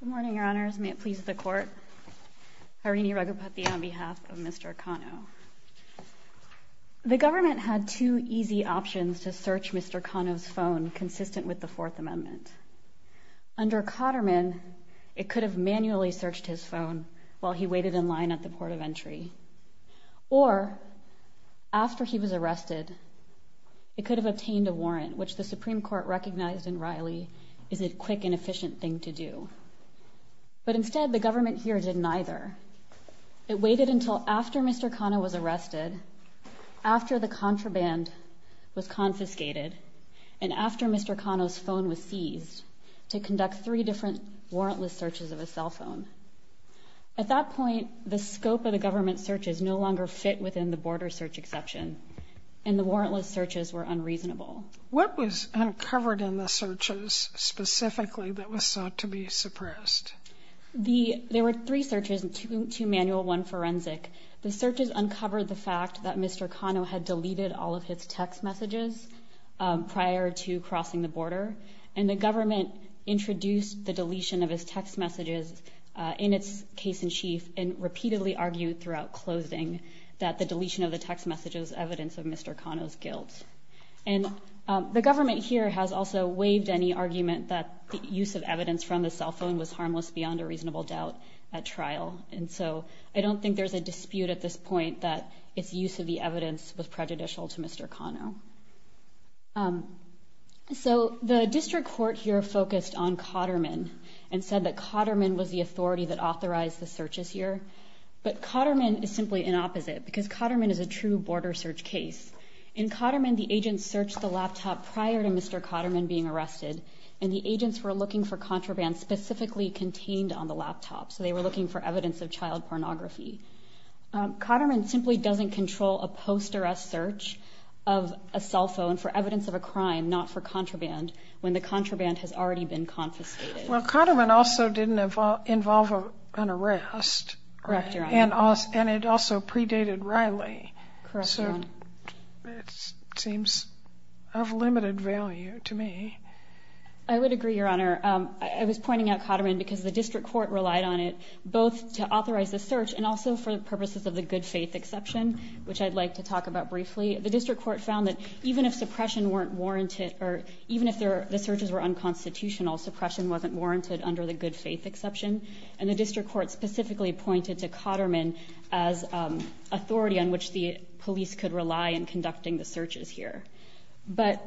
Good morning, Your Honors. May it please the Court. Harini Raghupati on behalf of Mr. Cano. The government had two easy options to search Mr. Cano's phone consistent with the Fourth Amendment. Under Cotterman, it could have manually searched his phone while he waited in line at the port of entry. Or, after he was arrested, it could have obtained a warrant, which the Supreme Court recognized in Riley is a quick and efficient thing to do. But instead, the government here did neither. It waited until after Mr. Cano was arrested, after the contraband was confiscated, and after Mr. Cano's phone was seized, to conduct three different warrantless searches of his cell phone. At that point, the scope of the government searches no longer fit within the border search exception, and the warrantless searches were unreasonable. What was uncovered in the searches specifically that was sought to be suppressed? There were three searches, two manual, one forensic. The searches uncovered the fact that Mr. Cano had deleted all of his text messages prior to crossing the border, and the government introduced the deletion of his text messages in its case-in-chief and repeatedly argued throughout closing that the deletion of the text messages was evidence of Mr. Cano's guilt. And the government here has also waived any argument that the use of evidence from the cell phone was harmless beyond a reasonable doubt at trial. And so I don't think there's a dispute at this point that its use of the evidence was prejudicial to Mr. Cano. So the district court here focused on Cotterman and said that Cotterman was the authority that authorized the searches here. But Cotterman is simply an opposite, because Cotterman is a true border search case. In Cotterman, the agents searched the laptop prior to Mr. Cotterman being arrested, and the agents were looking for contraband specifically contained on the laptop. So they were looking for evidence of child pornography. Cotterman simply doesn't control a post-arrest search of a cell phone for evidence of a crime, not for contraband, when the contraband has already been confiscated. Well, Cotterman also didn't Correct, Your Honor. search, it seems, of limited value to me. I would agree, Your Honor. I was pointing out Cotterman because the district court relied on it both to authorize the search and also for the purposes of the good faith exception, which I'd like to talk about briefly. The district court found that even if suppression weren't warranted, or even if the searches were unconstitutional, suppression wasn't warranted under the good faith exception. And the district court specifically pointed to Cotterman as authority on which the police could rely in conducting the searches here. But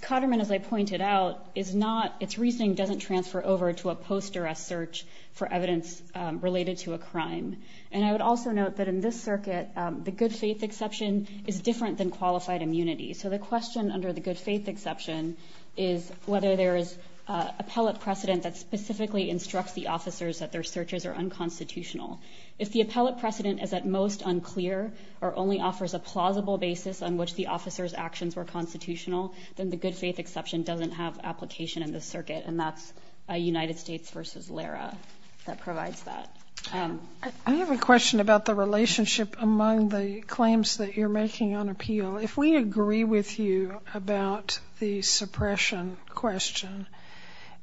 Cotterman, as I pointed out, is not, its reasoning doesn't transfer over to a post-arrest search for evidence related to a crime. And I would also note that in this circuit, the good faith exception is different than qualified immunity. So the question under the good faith exception is whether there is appellate precedent that specifically instructs the officers that If the appellate precedent is at most unclear or only offers a plausible basis on which the officers' actions were constitutional, then the good faith exception doesn't have application in this circuit. And that's United States v. LARA that provides that. I have a question about the relationship among the claims that you're making on appeal. If we agree with you about the suppression question,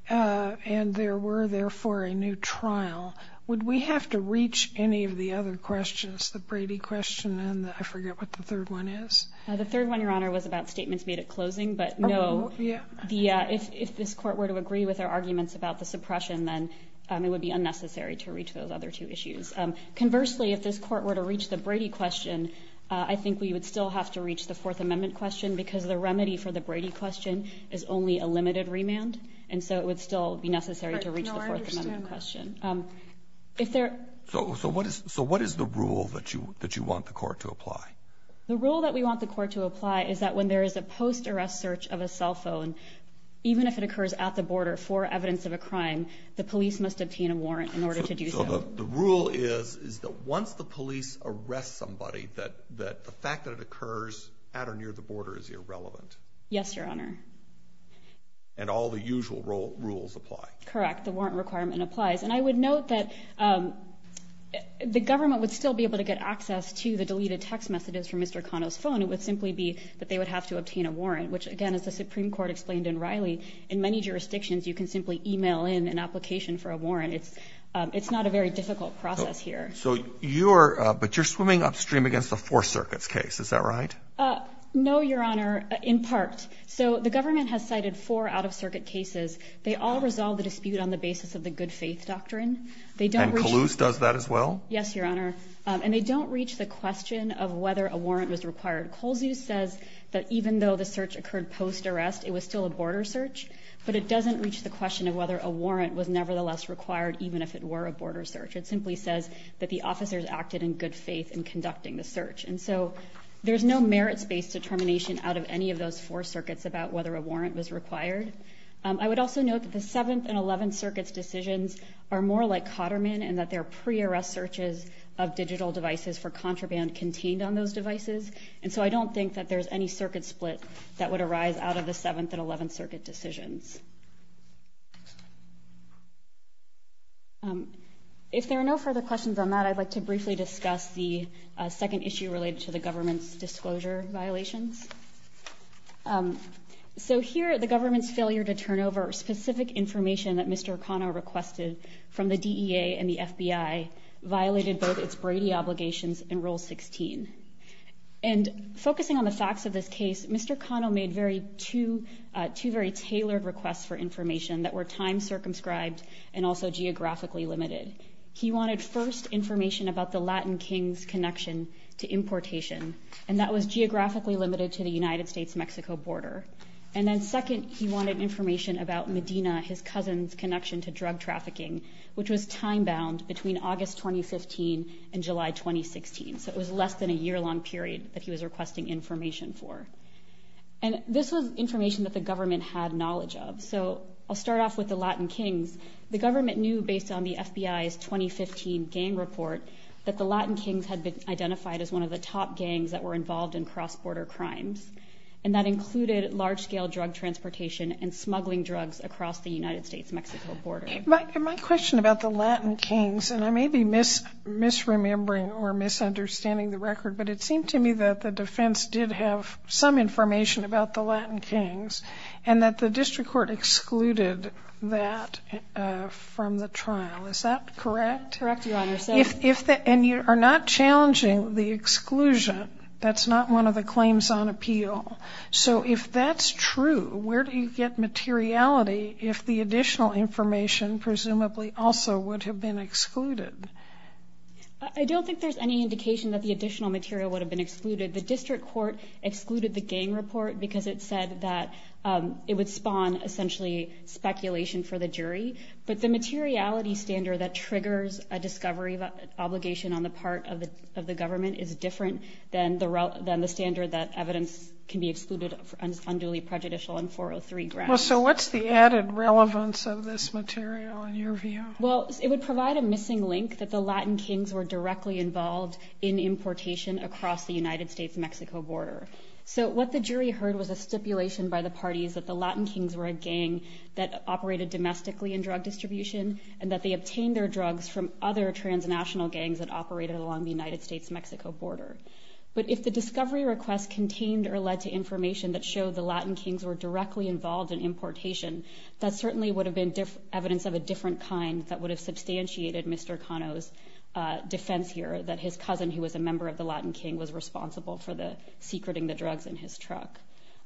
and there were therefore a new trial, would we have to reach any of the other questions, the Brady question and I forget what the third one is? The third one, Your Honor, was about statements made at closing. But no, if this court were to agree with our arguments about the suppression, then it would be unnecessary to reach those other two issues. Conversely, if this court were to reach the Brady question, I think we would still have to reach the Fourth Amendment question because the remedy for the Brady question is only a limited remand. And so it would still be necessary to reach the Fourth Amendment question. So what is the rule that you want the court to apply? The rule that we want the court to apply is that when there is a post-arrest search of a cell phone, even if it occurs at the border for evidence of a crime, the police must obtain a warrant in order to do so. So the rule is that once the police arrest somebody, that the fact that it occurs at or near the border is irrelevant? Yes, Your Honor. And all the And I would note that the government would still be able to get access to the deleted text messages from Mr. Cano's phone. It would simply be that they would have to obtain a warrant, which, again, as the Supreme Court explained in Riley, in many jurisdictions you can simply e-mail in an application for a warrant. It's not a very difficult process here. So you're – but you're swimming upstream against a Fourth Circuit's case. Is that right? No, Your Honor, in part. So the government has cited four Out-of-Circuit cases. They all resolve the dispute on the basis of the good-faith doctrine. They don't reach – And Calouse does that as well? Yes, Your Honor. And they don't reach the question of whether a warrant was required. Colesview says that even though the search occurred post-arrest, it was still a border search, but it doesn't reach the question of whether a warrant was nevertheless required, even if it were a border search. It simply says that the officers acted in good faith in conducting the search. And so there's no merits-based determination out of any of those four circuits about whether a warrant was required. I would also note that the Seventh and Eleventh Circuit's decisions are more like Cotterman in that they're pre-arrest searches of digital devices for contraband contained on those devices. And so I don't think that there's any circuit split that would arise out of the Seventh and Eleventh Circuit decisions. If there are no further questions on that, I'd like to briefly discuss the second issue related to the government's disclosure violations. So here, the government's failure to turn over specific information that Mr. Cano requested from the DEA and the FBI violated both its Brady obligations and Rule 16. And focusing on the facts of this case, Mr. Cano made two very tailored requests for information that were time-circumscribed and also geographically limited. He wanted first information about the Latin King's connection to importation, and that was geographically limited to the United States-Mexico border. And then second, he wanted information about Medina, his cousin's connection to drug trafficking, which was time-bound between August 2015 and July 2016. So it was less than a year-long period that he was requesting information for. And this was information that the government had knowledge of. So I'll start off with the Latin King's. The government knew, based on the FBI's 2015 gang report, that the Latin King's had been identified as one of the top gangs that were involved in cross-border crimes. And that included large-scale drug transportation and smuggling drugs across the United States-Mexico border. My question about the Latin King's, and I may be misremembering or misunderstanding the record, but it seemed to me that the defense did have some information about the Latin King's, and that the district court excluded that from the trial. Is that correct? Correct, Your Honor. And you are not challenging the exclusion. That's not one of the claims on appeal. So if that's true, where do you get materiality if the additional information presumably also would have been excluded? I don't think there's any indication that the additional material would have been excluded. The district court excluded the gang report because it said that it would spawn, essentially, speculation for the jury. But the materiality standard that triggers a discovery obligation on the part of the government is different than the standard that evidence can be excluded for unduly prejudicial and 403 grounds. So what's the added relevance of this material, in your view? Well, it would provide a missing link that the Latin King's were directly involved in the United States-Mexico border. So what the jury heard was a stipulation by the parties that the Latin King's were a gang that operated domestically in drug distribution, and that they obtained their drugs from other transnational gangs that operated along the United States-Mexico border. But if the discovery request contained or led to information that showed the Latin King's were directly involved in importation, that certainly would have been evidence of a different kind that would have substantiated Mr. Cano's defense here, that his cousin who was a member of the Latin King was responsible for secreting the drugs in his truck.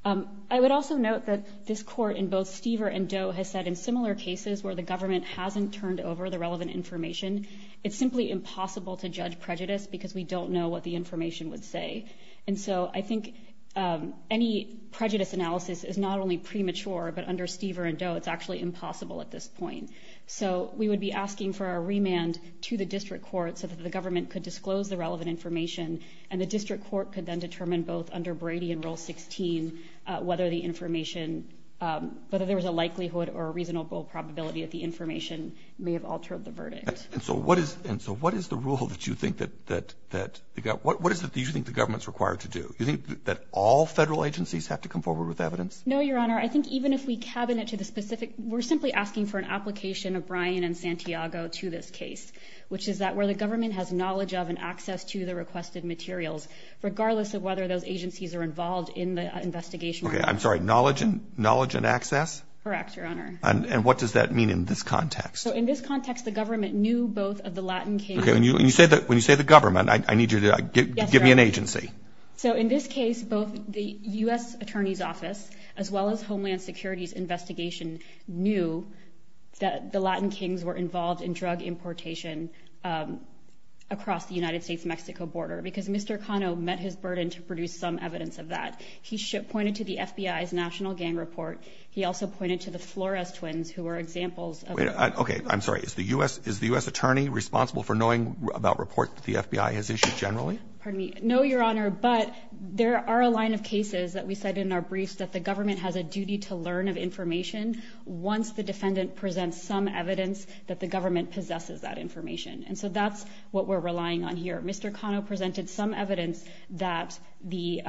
I would also note that this court in both Stever and Doe has said in similar cases where the government hasn't turned over the relevant information, it's simply impossible to judge prejudice because we don't know what the information would say. And so I think any prejudice analysis is not only premature, but under Stever and Doe, it's actually impossible at this point. So we would be asking for a remand to the district court so that the government could disclose the relevant information, and the district court could then determine both under Brady and Rule 16 whether the information, whether there was a likelihood or a reasonable probability that the information may have altered the verdict. And so what is, and so what is the rule that you think that, that, what is it that you think the government's required to do? You think that all federal agencies have to come forward with evidence? No, Your Honor. I think even if we cabinet to the specific, we're simply asking for an application of Bryan and Santiago to this case, which is that where the government has knowledge of and access to the requested materials, regardless of whether those agencies are involved in the investigation or not. Okay, I'm sorry, knowledge and, knowledge and access? Correct, Your Honor. And what does that mean in this context? So in this context, the government knew both of the Latin Kings. Okay, when you say that, when you say the government, I need you to give me an agency. So in this case, both the U.S. Attorney's Office, as well as Homeland Security's investigation, knew that the Latin Kings were involved in drug importation across the United States-Mexico border because Mr. Cano met his burden to produce some evidence of that. He pointed to the FBI's National Gang Report. He also pointed to the Flores twins who were examples of- Okay, I'm sorry. Is the U.S. Attorney responsible for knowing about reports that the FBI has issued generally? Pardon me? No, Your Honor, but there are a line of cases that we cite in our briefs that the government has a duty to learn of information once the defendant presents some evidence that the government possesses that information. And so that's what we're relying on here. Mr. Cano presented some evidence that the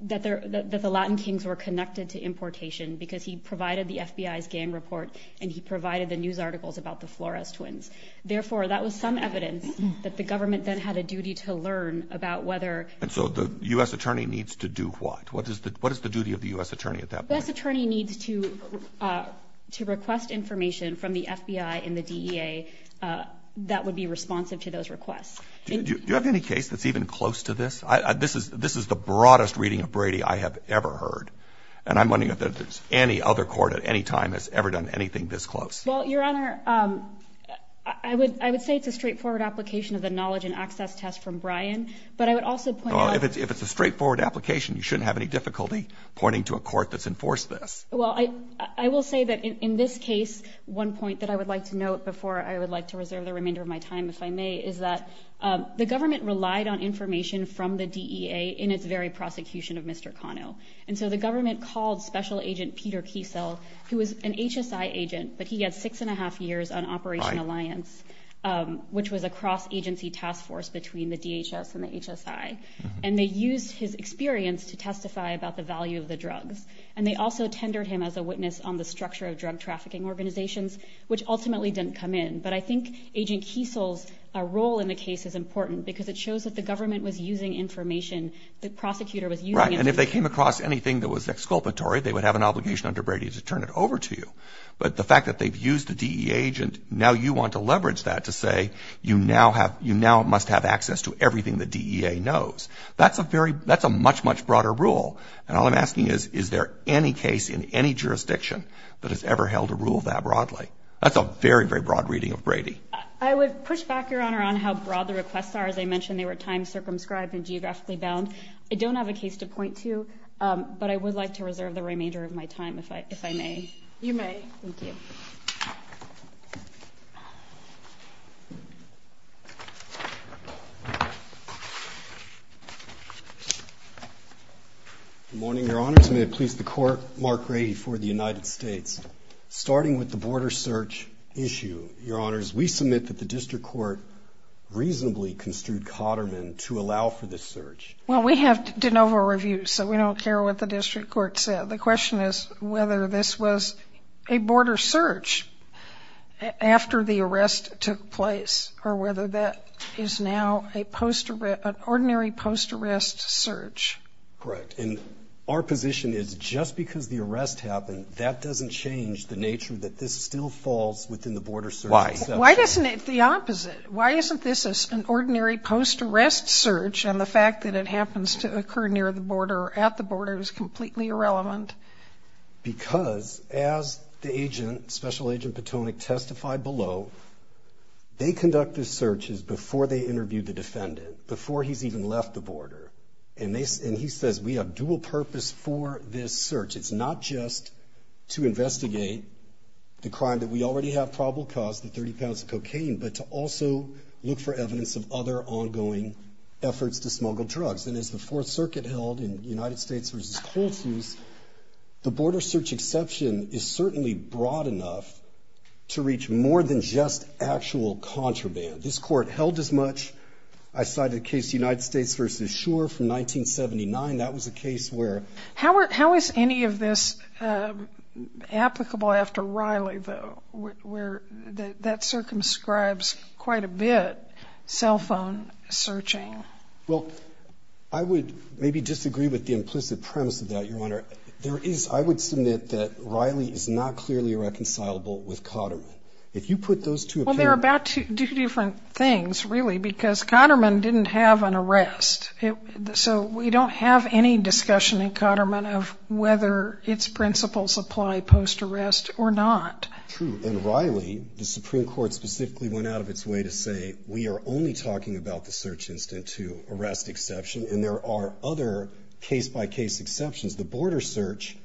Latin Kings were connected to importation because he provided the FBI's gang report and he provided the news articles about the Flores twins. Therefore, that was some evidence that the government then had a duty to learn about whether- The U.S. Attorney needs to request information from the FBI and the DEA that would be responsive to those requests. Do you have any case that's even close to this? This is the broadest reading of Brady I have ever heard. And I'm wondering if any other court at any time has ever done anything this close. Well, Your Honor, I would say it's a straightforward application of the knowledge and access test from Brian, but I would also point out- If it's a straightforward application, you shouldn't have any difficulty pointing to a court that's enforced this. Well, I will say that in this case, one point that I would like to note before I would like to reserve the remainder of my time, if I may, is that the government relied on information from the DEA in its very prosecution of Mr. Cano. And so the government called Special Agent Peter Kiesel, who was an HSI agent, but he had six and a half years on Operation Alliance, which was a cross-agency task force between the DHS and the HSI. And they used his experience to testify about the value of the drugs. And they also tendered him as a witness on the structure of drug trafficking organizations, which ultimately didn't come in. But I think Agent Kiesel's role in the case is important because it shows that the government was using information. The prosecutor was using information. Right. And if they came across anything that was exculpatory, they would have an obligation under Brady to turn it over to you. But the fact that they've used the DEA agent, now you want to leverage that to say, you now have you now must have access to everything the DEA knows. That's a very that's a much, much broader rule. And all I'm asking is, is there any case in any jurisdiction that has ever held a rule that broadly? That's a very, very broad reading of Brady. I would push back, Your Honor, on how broad the requests are. As I mentioned, they were time circumscribed and geographically bound. I don't have a case to point to, but I would like to reserve the remainder of my time, if I if I may. You may. Thank you. Good morning, Your Honors. May it please the Court, Mark Brady for the United States. Starting with the border search issue, Your Honors, we submit that the district court reasonably construed Cotterman to allow for this search. Well, we have de novo reviews, so we don't care what the district court said. The question is whether this was a border search after the arrest took place or whether that is now a post, an ordinary post-arrest search. Correct. And our position is just because the arrest happened, that doesn't change the nature that this still falls within the border search. Why? Why isn't it the opposite? Why isn't this an ordinary post-arrest search? And the fact that it happens to occur near the border or at the border is completely irrelevant. Because as the agent, Special Agent Patonick, testified below, they conducted searches before they interviewed the defendant, before he's even left the border. And he says, we have dual purpose for this search. It's not just to investigate the crime that we already have probable cause, the 30 pounds of cocaine, but to also look for evidence of other ongoing efforts to smuggle drugs. And as the Fourth Circuit held in United States versus Holsteins, the border search exception is certainly broad enough to reach more than just actual contraband. This court held as much, I cited a case United States versus Shure from 1979. That was a case where... How is any of this applicable after Riley though, where that circumscribes quite a bit cell phone searching? Well, I would maybe disagree with the implicit premise of that, Your Honor. There is, I would submit that Riley is not clearly reconcilable with Cotterman. If you put those two... Well, they're about two different things, really, because Cotterman didn't have an arrest. So we don't have any discussion in Cotterman of whether its principles apply post-arrest or not. True. And Riley, the Supreme Court specifically went out of its way to say, we are only talking about the search incident to arrest exception, and there are other case-by-case exceptions. The border search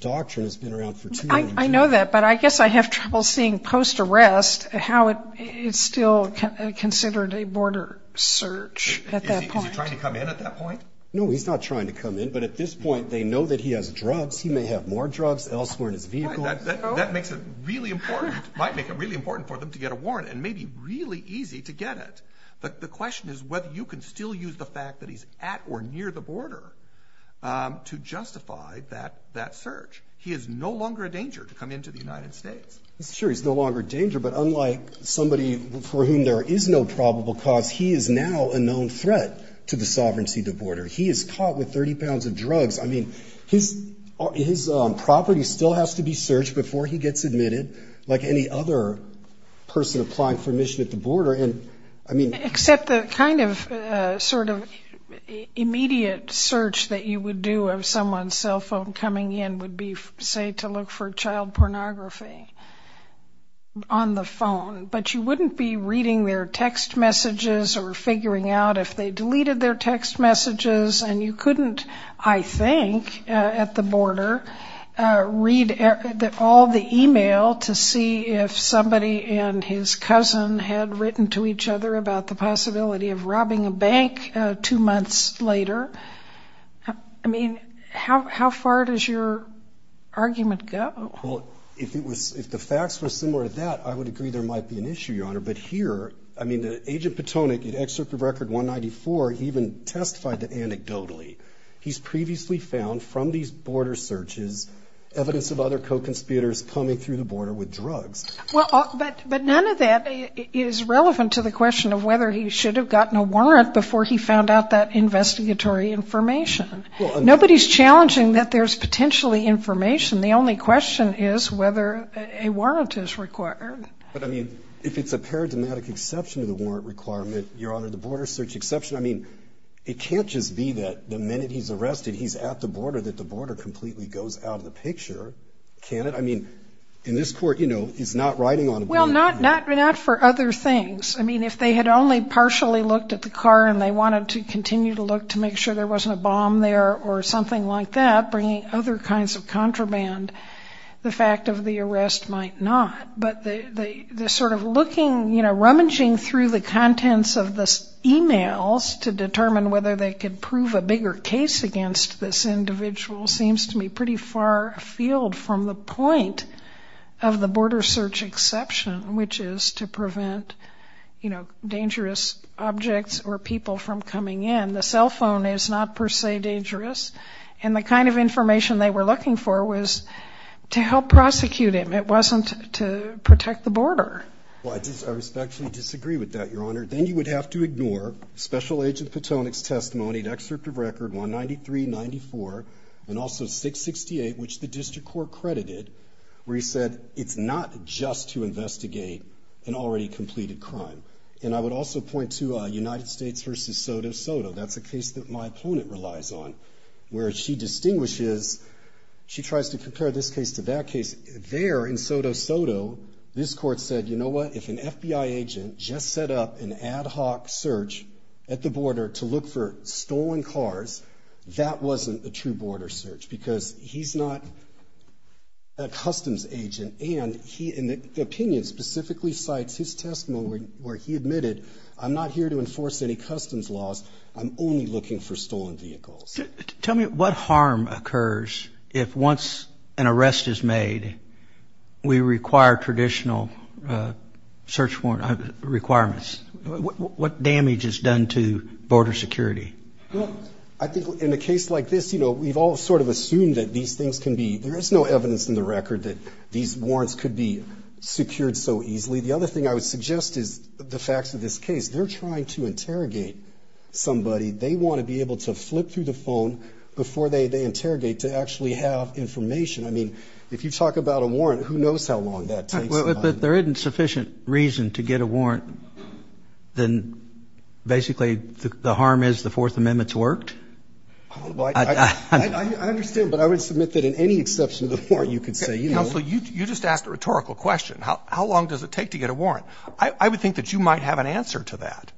doctrine has been around for too long. I know that, but I guess I have trouble seeing post-arrest, how it's still considered a border search at that point. Is he trying to come in at that point? No, he's not trying to come in. But at this point, they know that he has drugs. He may have more drugs elsewhere in his vehicle. That makes it really important, might make it really important for them to get a warrant, and maybe really easy to get it. But the question is whether you can still use the fact that he's at or near the border to justify that search. He is no longer a danger to come into the United States. He's sure he's no longer a danger, but unlike somebody for whom there is no probable cause, he is now a known threat to the sovereignty of the border. He is caught with 30 pounds of drugs. I mean, his property still has to be searched before he gets admitted, like any other person applying for admission at the border. Except the kind of immediate search that you would do of someone's cell phone coming in would be, say, to look for child pornography on the phone. But you wouldn't be reading their text messages or figuring out if they deleted their text messages. And you couldn't, I think, at the border, read all the email to see if somebody and his cousin had written to each other about the possibility of robbing a bank two months later. I mean, how far does your argument go? Well, if it was, if the facts were similar to that, I would agree there might be an issue, Your Honor. But here, I mean, Agent Patonick, in Excerpt of Record 194, even testified that he's previously found, from these border searches, evidence of other co-conspirators coming through the border with drugs. Well, but none of that is relevant to the question of whether he should have gotten a warrant before he found out that investigatory information. Nobody's challenging that there's potentially information. The only question is whether a warrant is required. But, I mean, if it's a paradigmatic exception to the warrant requirement, Your Honor, the border search exception, I mean, it can't just be that the minute he's arrested, he's at the border, that the border completely goes out of the picture, can it? I mean, in this court, you know, he's not riding on a bullet. Well, not for other things. I mean, if they had only partially looked at the car and they wanted to continue to look to make sure there wasn't a bomb there or something like that, bringing other kinds of contraband, the fact of the arrest might not. But the sort of looking, you know, rummaging through the contents of the emails to determine whether they could prove a bigger case against this individual seems to me pretty far afield from the point of the border search exception, which is to prevent, you know, dangerous objects or people from coming in. The cell phone is not per se dangerous. And the kind of information they were looking for was to help prosecute him. It wasn't to protect the border. Well, I respectfully disagree with that, Your Honor. Then you would have to ignore Special Agent Patonick's testimony, an excerpt of record 193-94 and also 668, which the district court credited, where he said it's not just to investigate an already completed crime. And I would also point to United States v. Soto Soto. That's a case that my opponent relies on, where she distinguishes, she tries to compare this case to that case. There in Soto Soto, this court said, you know what, if an FBI agent just set up an ad hoc search at the border to look for stolen cars, that wasn't a true border search because he's not a customs agent. And he, in the opinion, specifically cites his testimony where he admitted, I'm not here to enforce any customs laws. I'm only looking for stolen vehicles. Tell me what harm occurs if once an arrest is made, we require traditional search warrant requirements. What damage is done to border security? Well, I think in a case like this, you know, we've all sort of assumed that these things can be, there is no evidence in the record that these warrants could be secured so easily. The other thing I would suggest is the facts of this case. They're trying to interrogate somebody. They want to be able to flip through the phone before they interrogate to actually have information. I mean, if you talk about a warrant, who knows how long that takes? But there isn't sufficient reason to get a warrant, then basically the harm is the Fourth Amendment's worked? I understand, but I would submit that in any exception to the warrant, you could say, you know. Counsel, you just asked a rhetorical question. How long does it take to get a warrant? I would think that you might have an answer to that.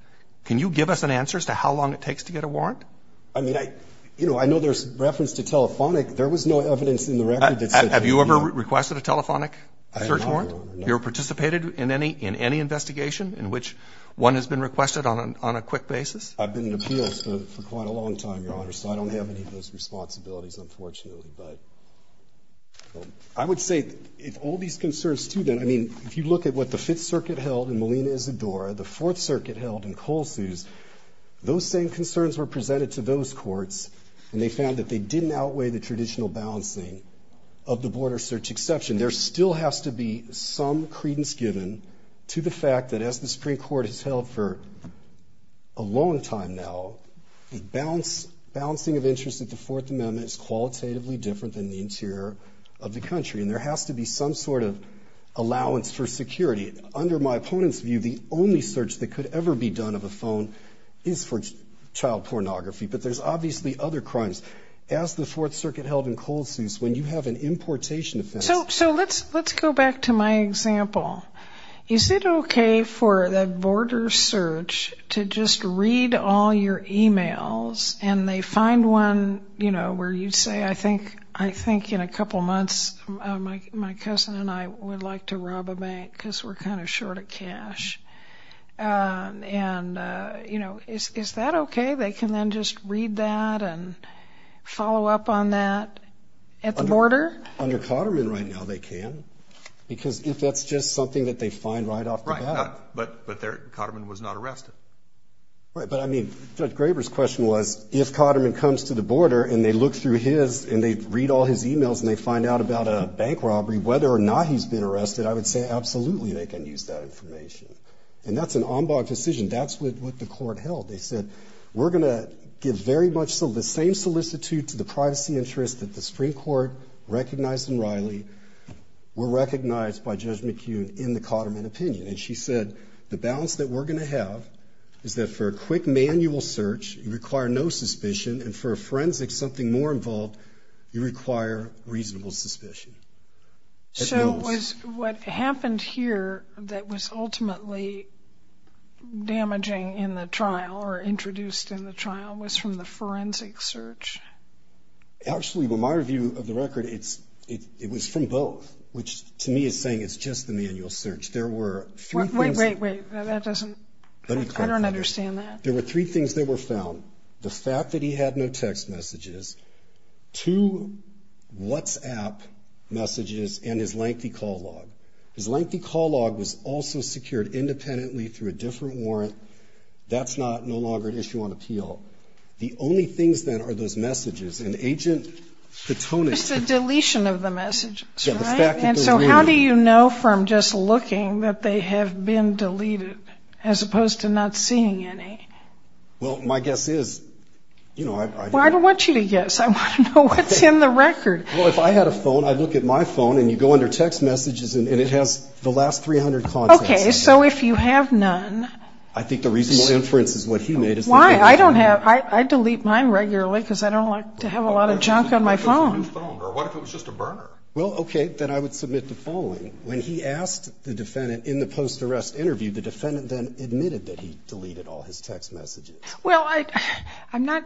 Can you give us an answer as to how long it takes to get a warrant? I mean, I, you know, I know there's reference to telephonic. There was no evidence in the record that said, you know. Have you ever requested a telephonic search warrant? I have not, Your Honor. No. Have you ever participated in any investigation in which one has been requested on a quick basis? I've been in appeals for quite a long time, Your Honor, so I don't have any of those responsibilities, unfortunately. But I would say if all these concerns, too, then, I mean, if you look at what the Fifth Circuit held in Molina Isadora, the Fourth Circuit held in Colesuse, those same concerns were presented to those courts, and they found that they didn't outweigh the traditional balancing of the border search exception. There still has to be some credence given to the fact that, as the Supreme Court has held for a long time now, the balancing of interests at the Fourth Amendment is qualitatively different than the interior of the country, and there has to be some sort of allowance for security. Under my opponent's view, the only search that could other crimes, as the Fourth Circuit held in Colesuse, when you have an importation offense. So let's go back to my example. Is it okay for the border search to just read all your emails and they find one, you know, where you say, I think in a couple months my cousin and I would like to rob a bank because we're kind of short of cash. And, you know, is that okay? They can then just read that and follow up on that at the border? Under Cotterman right now they can, because if that's just something that they find right off the bat. Right, but there Cotterman was not arrested. Right, but I mean, Judge Graber's question was, if Cotterman comes to the border and they look through his, and they read all his emails and they find out about a bank robbery, whether or not he's been arrested, I would say absolutely they can use that information. And that's an ombud decision. That's what the court held. They said, we're going to give very much so the same solicitude to the privacy interests that the Supreme Court recognized in Riley were recognized by Judge McKeown in the Cotterman opinion. And she said, the balance that we're going to have is that for a quick manual search, you require no suspicion. And for a forensic, something more involved, you require reasonable suspicion. So it was what happened here that was ultimately damaging in the trial or introduced in the trial was from the forensic search? Actually, but my review of the record, it was from both, which to me is saying it's just the manual search. There were three things. Wait, wait, wait, that doesn't, I don't understand that. There were three things that were found. The WhatsApp messages and his lengthy call log. His lengthy call log was also secured independently through a different warrant. That's not no longer an issue on appeal. The only things that are those messages and agent, the tone is the deletion of the message. And so how do you know from just looking that they have been deleted as opposed to not seeing any? Well, my guess is, you know, I don't want you to guess. I want to know what's in the record. Well, if I had a phone, I'd look at my phone and you go under text messages and it has the last 300 calls. Okay. So if you have none, I think the reasonable inference is what he made. Why? I don't have, I delete mine regularly because I don't like to have a lot of junk on my phone. Or what if it was just a burner? Well, okay. Then I would submit the following. When he asked the defendant in the post arrest interview, the defendant then admitted that he I'm not,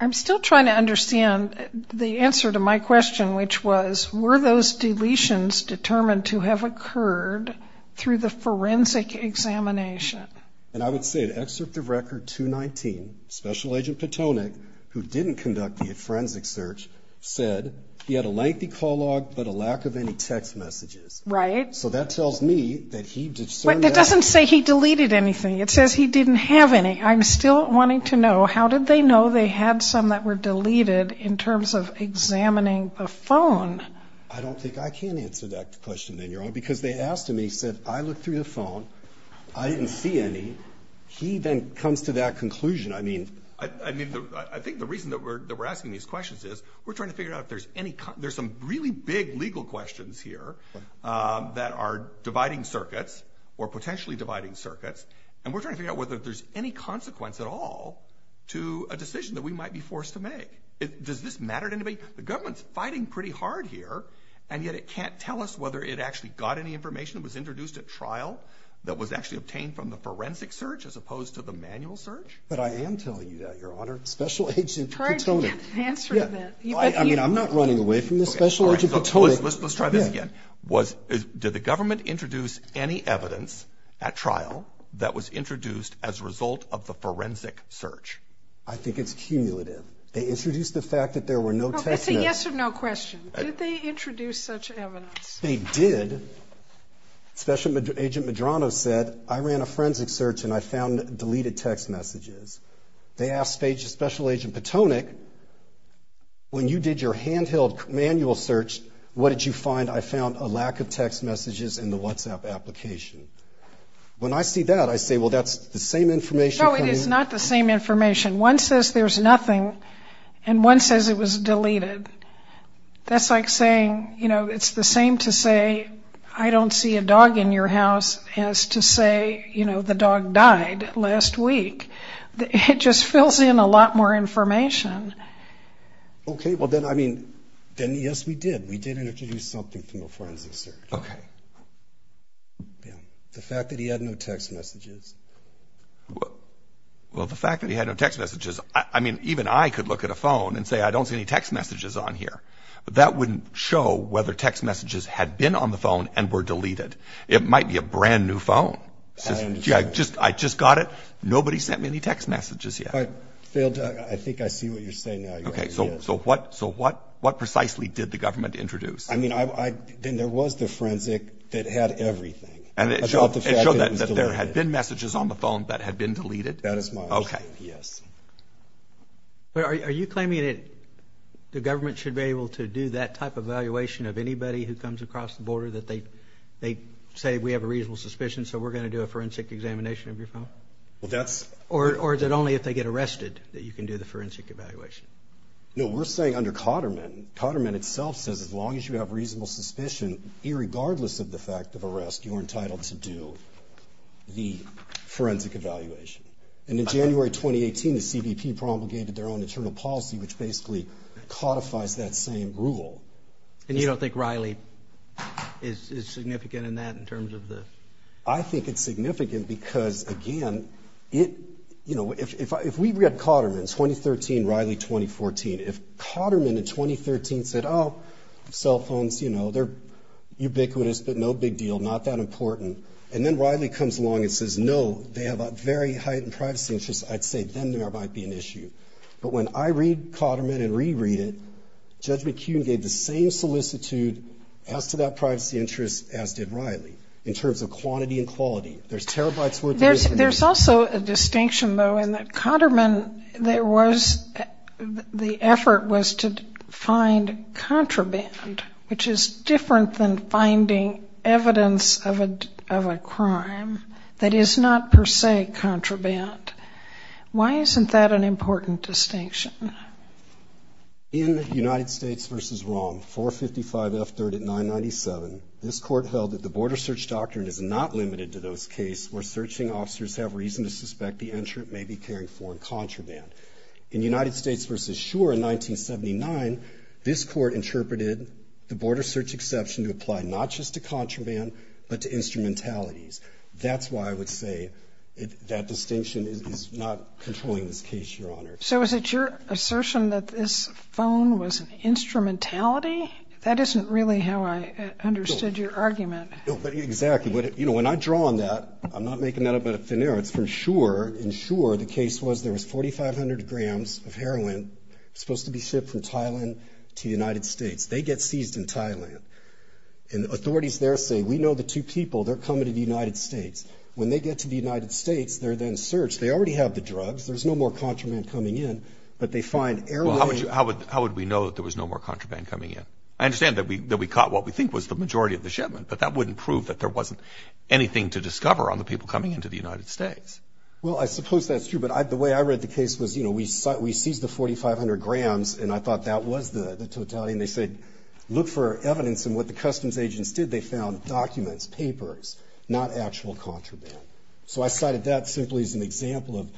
I'm still trying to understand the answer to my question, which was, were those deletions determined to have occurred through the forensic examination? And I would say an excerpt of record 219, special agent Petonic, who didn't conduct the forensic search said he had a lengthy call log, but a lack of any text messages. Right? So that tells me that he did. It doesn't say he deleted anything. It says he didn't have any. I'm still wanting to know, how did they know they had some that were deleted in terms of examining the phone? I don't think I can answer that question then, Your Honor, because they asked him. He said, I looked through the phone. I didn't see any. He then comes to that conclusion. I mean, I, I mean, I think the reason that we're, that we're asking these questions is we're trying to figure out if there's any, there's some really big legal questions here that are dividing circuits or potentially dividing circuits. And we're trying to figure out whether there's any consequence at all to a decision that we might be forced to make. Does this matter to anybody? The government's fighting pretty hard here and yet it can't tell us whether it actually got any information that was introduced at trial that was actually obtained from the forensic search as opposed to the manual search. But I am telling you that, Your Honor, special agent Petonic. I'm not running away from this, special agent Petonic. Let's try this again. Was, did the government introduce any evidence at trial that was introduced as a result of the forensic search? I think it's cumulative. They introduced the fact that there were no text messages. It's a yes or no question. Did they introduce such evidence? They did. Special agent Medrano said, I ran a forensic search and I found deleted text messages. They asked special agent Petonic, when you did your handheld manual search, what did you find? I found a lack of text messages in the WhatsApp application. When I see that, I say, well, that's the same information. No, it is not the same information. One says there's nothing and one says it was deleted. That's like saying, you know, it's the same to say, I don't see a dog in your house as to say, you know, the dog died last week. It just fills in a lot more information. Okay. Well then, I mean, then yes, we did. We did introduce something from a forensic search. Okay. Yeah. The fact that he had no text messages. Well, the fact that he had no text messages, I mean, even I could look at a phone and say, I don't see any text messages on here. That wouldn't show whether text messages had been on the phone and were deleted. It might be a brand new phone. I just, I just got it. Nobody sent me any text messages yet. I failed to, I think I see what you're saying now. Okay. So, so what, so what, what precisely did the government introduce? I mean, I, I, then there was the forensic that had everything. And it showed that there had been messages on the phone that had been deleted. That is my, okay. Yes. But are you, are you claiming that the government should be able to do that type of evaluation of anybody who comes across the border that they, they say we have a reasonable suspicion. So we're going to do a forensic examination of your phone? Well, that's, or, or is it only if they get arrested that you can do the forensic evaluation? No, we're saying under Cotterman, Cotterman itself says, as long as you have reasonable suspicion, irregardless of the fact of arrest, you're entitled to do the forensic evaluation. And in January, 2018, the CBP promulgated their own internal policy, which basically codifies that same rule. And you don't think Riley is significant in that in terms of I think it's significant because again, it, you know, if, if, if we read Cotterman 2013, Riley 2014, if Cotterman in 2013 said, oh, cell phones, you know, they're ubiquitous, but no big deal. Not that important. And then Riley comes along and says, no, they have a very heightened privacy interest. I'd say then there might be an issue. But when I read Cotterman and reread it, Judge McKeon gave the same solicitude as to that privacy interest as did Cotterman in terms of quantity and quality. There's terabytes worth of information. There's also a distinction though, in that Cotterman, there was, the effort was to find contraband, which is different than finding evidence of a, of a crime that is not per se contraband. Why isn't that an important distinction? In United States versus wrong, 455 F 3rd at 997, this court held that the border search doctrine is not limited to those cases where searching officers have reason to suspect the entrant may be carrying foreign contraband. In United States versus sure in 1979, this court interpreted the border search exception to apply not just to contraband, but to instrumentalities. That's why I would say that distinction is not controlling this case, Your Honor. So is it your assertion that this phone was an instrumentality? That isn't really how I understood your argument. Exactly. But you know, when I draw on that, I'm not making that up out of thin air. It's for sure. And sure the case was there was 4,500 grams of heroin supposed to be shipped from Thailand to United States. They get seized in Thailand and authorities there say, we know the two people they're coming to the United States. When they get to the United States, they're then already have the drugs. There's no more contraband coming in, but they find air. Well, how would you, how would, how would we know that there was no more contraband coming in? I understand that we, that we caught what we think was the majority of the shipment, but that wouldn't prove that there wasn't anything to discover on the people coming into the United States. Well, I suppose that's true. But I, the way I read the case was, you know, we saw, we seized the 4,500 grams and I thought that was the totality. And they said, look for evidence in what the customs agents did. They found documents, papers, not actual contraband. So I cited that simply as an example of,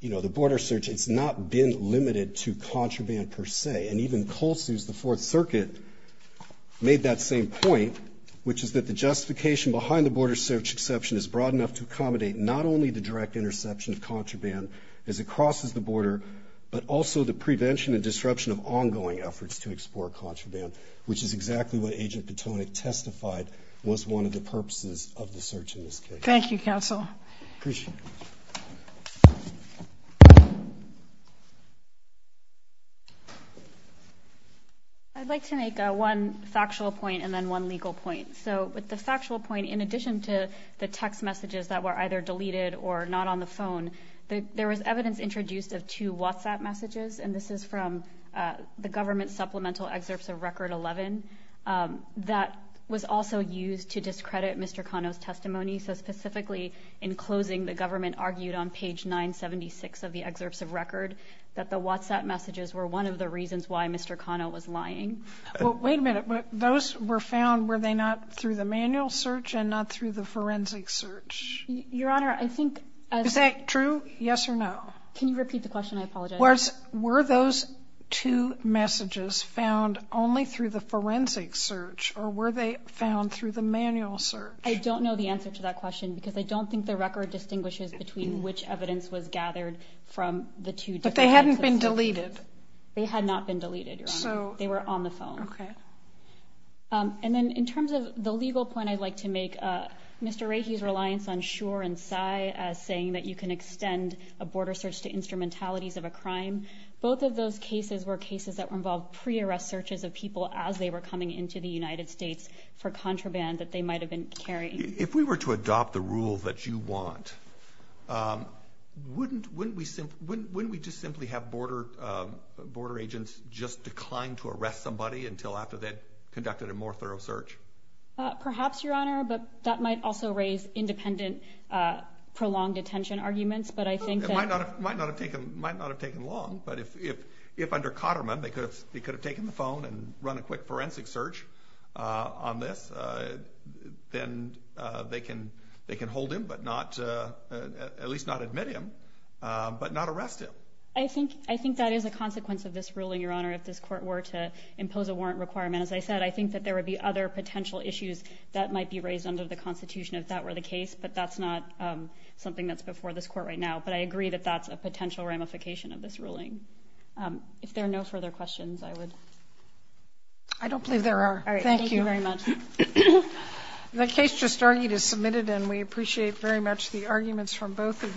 you know, the border search. It's not been limited to contraband per se. And even Kolsuse, the Fourth Circuit, made that same point, which is that the justification behind the border search exception is broad enough to accommodate not only the direct interception of contraband as it crosses the border, but also the prevention and disruption of ongoing efforts to explore contraband, which is exactly what Agent Patonick testified was one of the purposes of the search in this case. Thank you, counsel. I'd like to make one factual point and then one legal point. So with the factual point, in addition to the text messages that were either deleted or not on the phone, there was evidence introduced of two WhatsApp messages, and this is from the government supplemental excerpts of Record 11, that was also used to discredit Mr. Cano's testimony. So specifically, in closing, the government argued on page 976 of the excerpts of record that the WhatsApp messages were one of the reasons why Mr. Cano was lying. Wait a minute. Those were found, were they not through the manual search and not through the forensic search? Your Honor, I think... Is that true? Yes or no? Can you repeat the question? I apologize. Were those two messages found only through the forensic search or were they found through the manual search? I don't know the answer to that question because I don't think the record distinguishes between which evidence was gathered from the two different... But they hadn't been deleted. They had not been deleted, Your Honor. They were on the phone. And then in terms of the legal point, I'd like to make Mr. Rahe's reliance on border search to instrumentalities of a crime. Both of those cases were cases that were involved pre-arrest searches of people as they were coming into the United States for contraband that they might have been carrying. If we were to adopt the rule that you want, wouldn't we just simply have border agents just decline to arrest somebody until after they'd conducted a more thorough search? Perhaps, Your Honor, but that might also raise independent prolonged detention arguments, but I think that... Might not have taken long, but if under Cotterman they could have taken the phone and run a quick forensic search on this, then they can hold him, but at least not admit him, but not arrest him. I think that is a consequence of this ruling, Your Honor, if this court were to impose a warrant requirement. As I said, I think that there would be other potential issues that might be raised under the Constitution if that were the case, but that's not something that's before this court right now. I agree that that's a potential ramification of this ruling. If there are no further questions, I would... I don't believe there are. Thank you very much. The case just argued is submitted and we appreciate very much the arguments from both of you.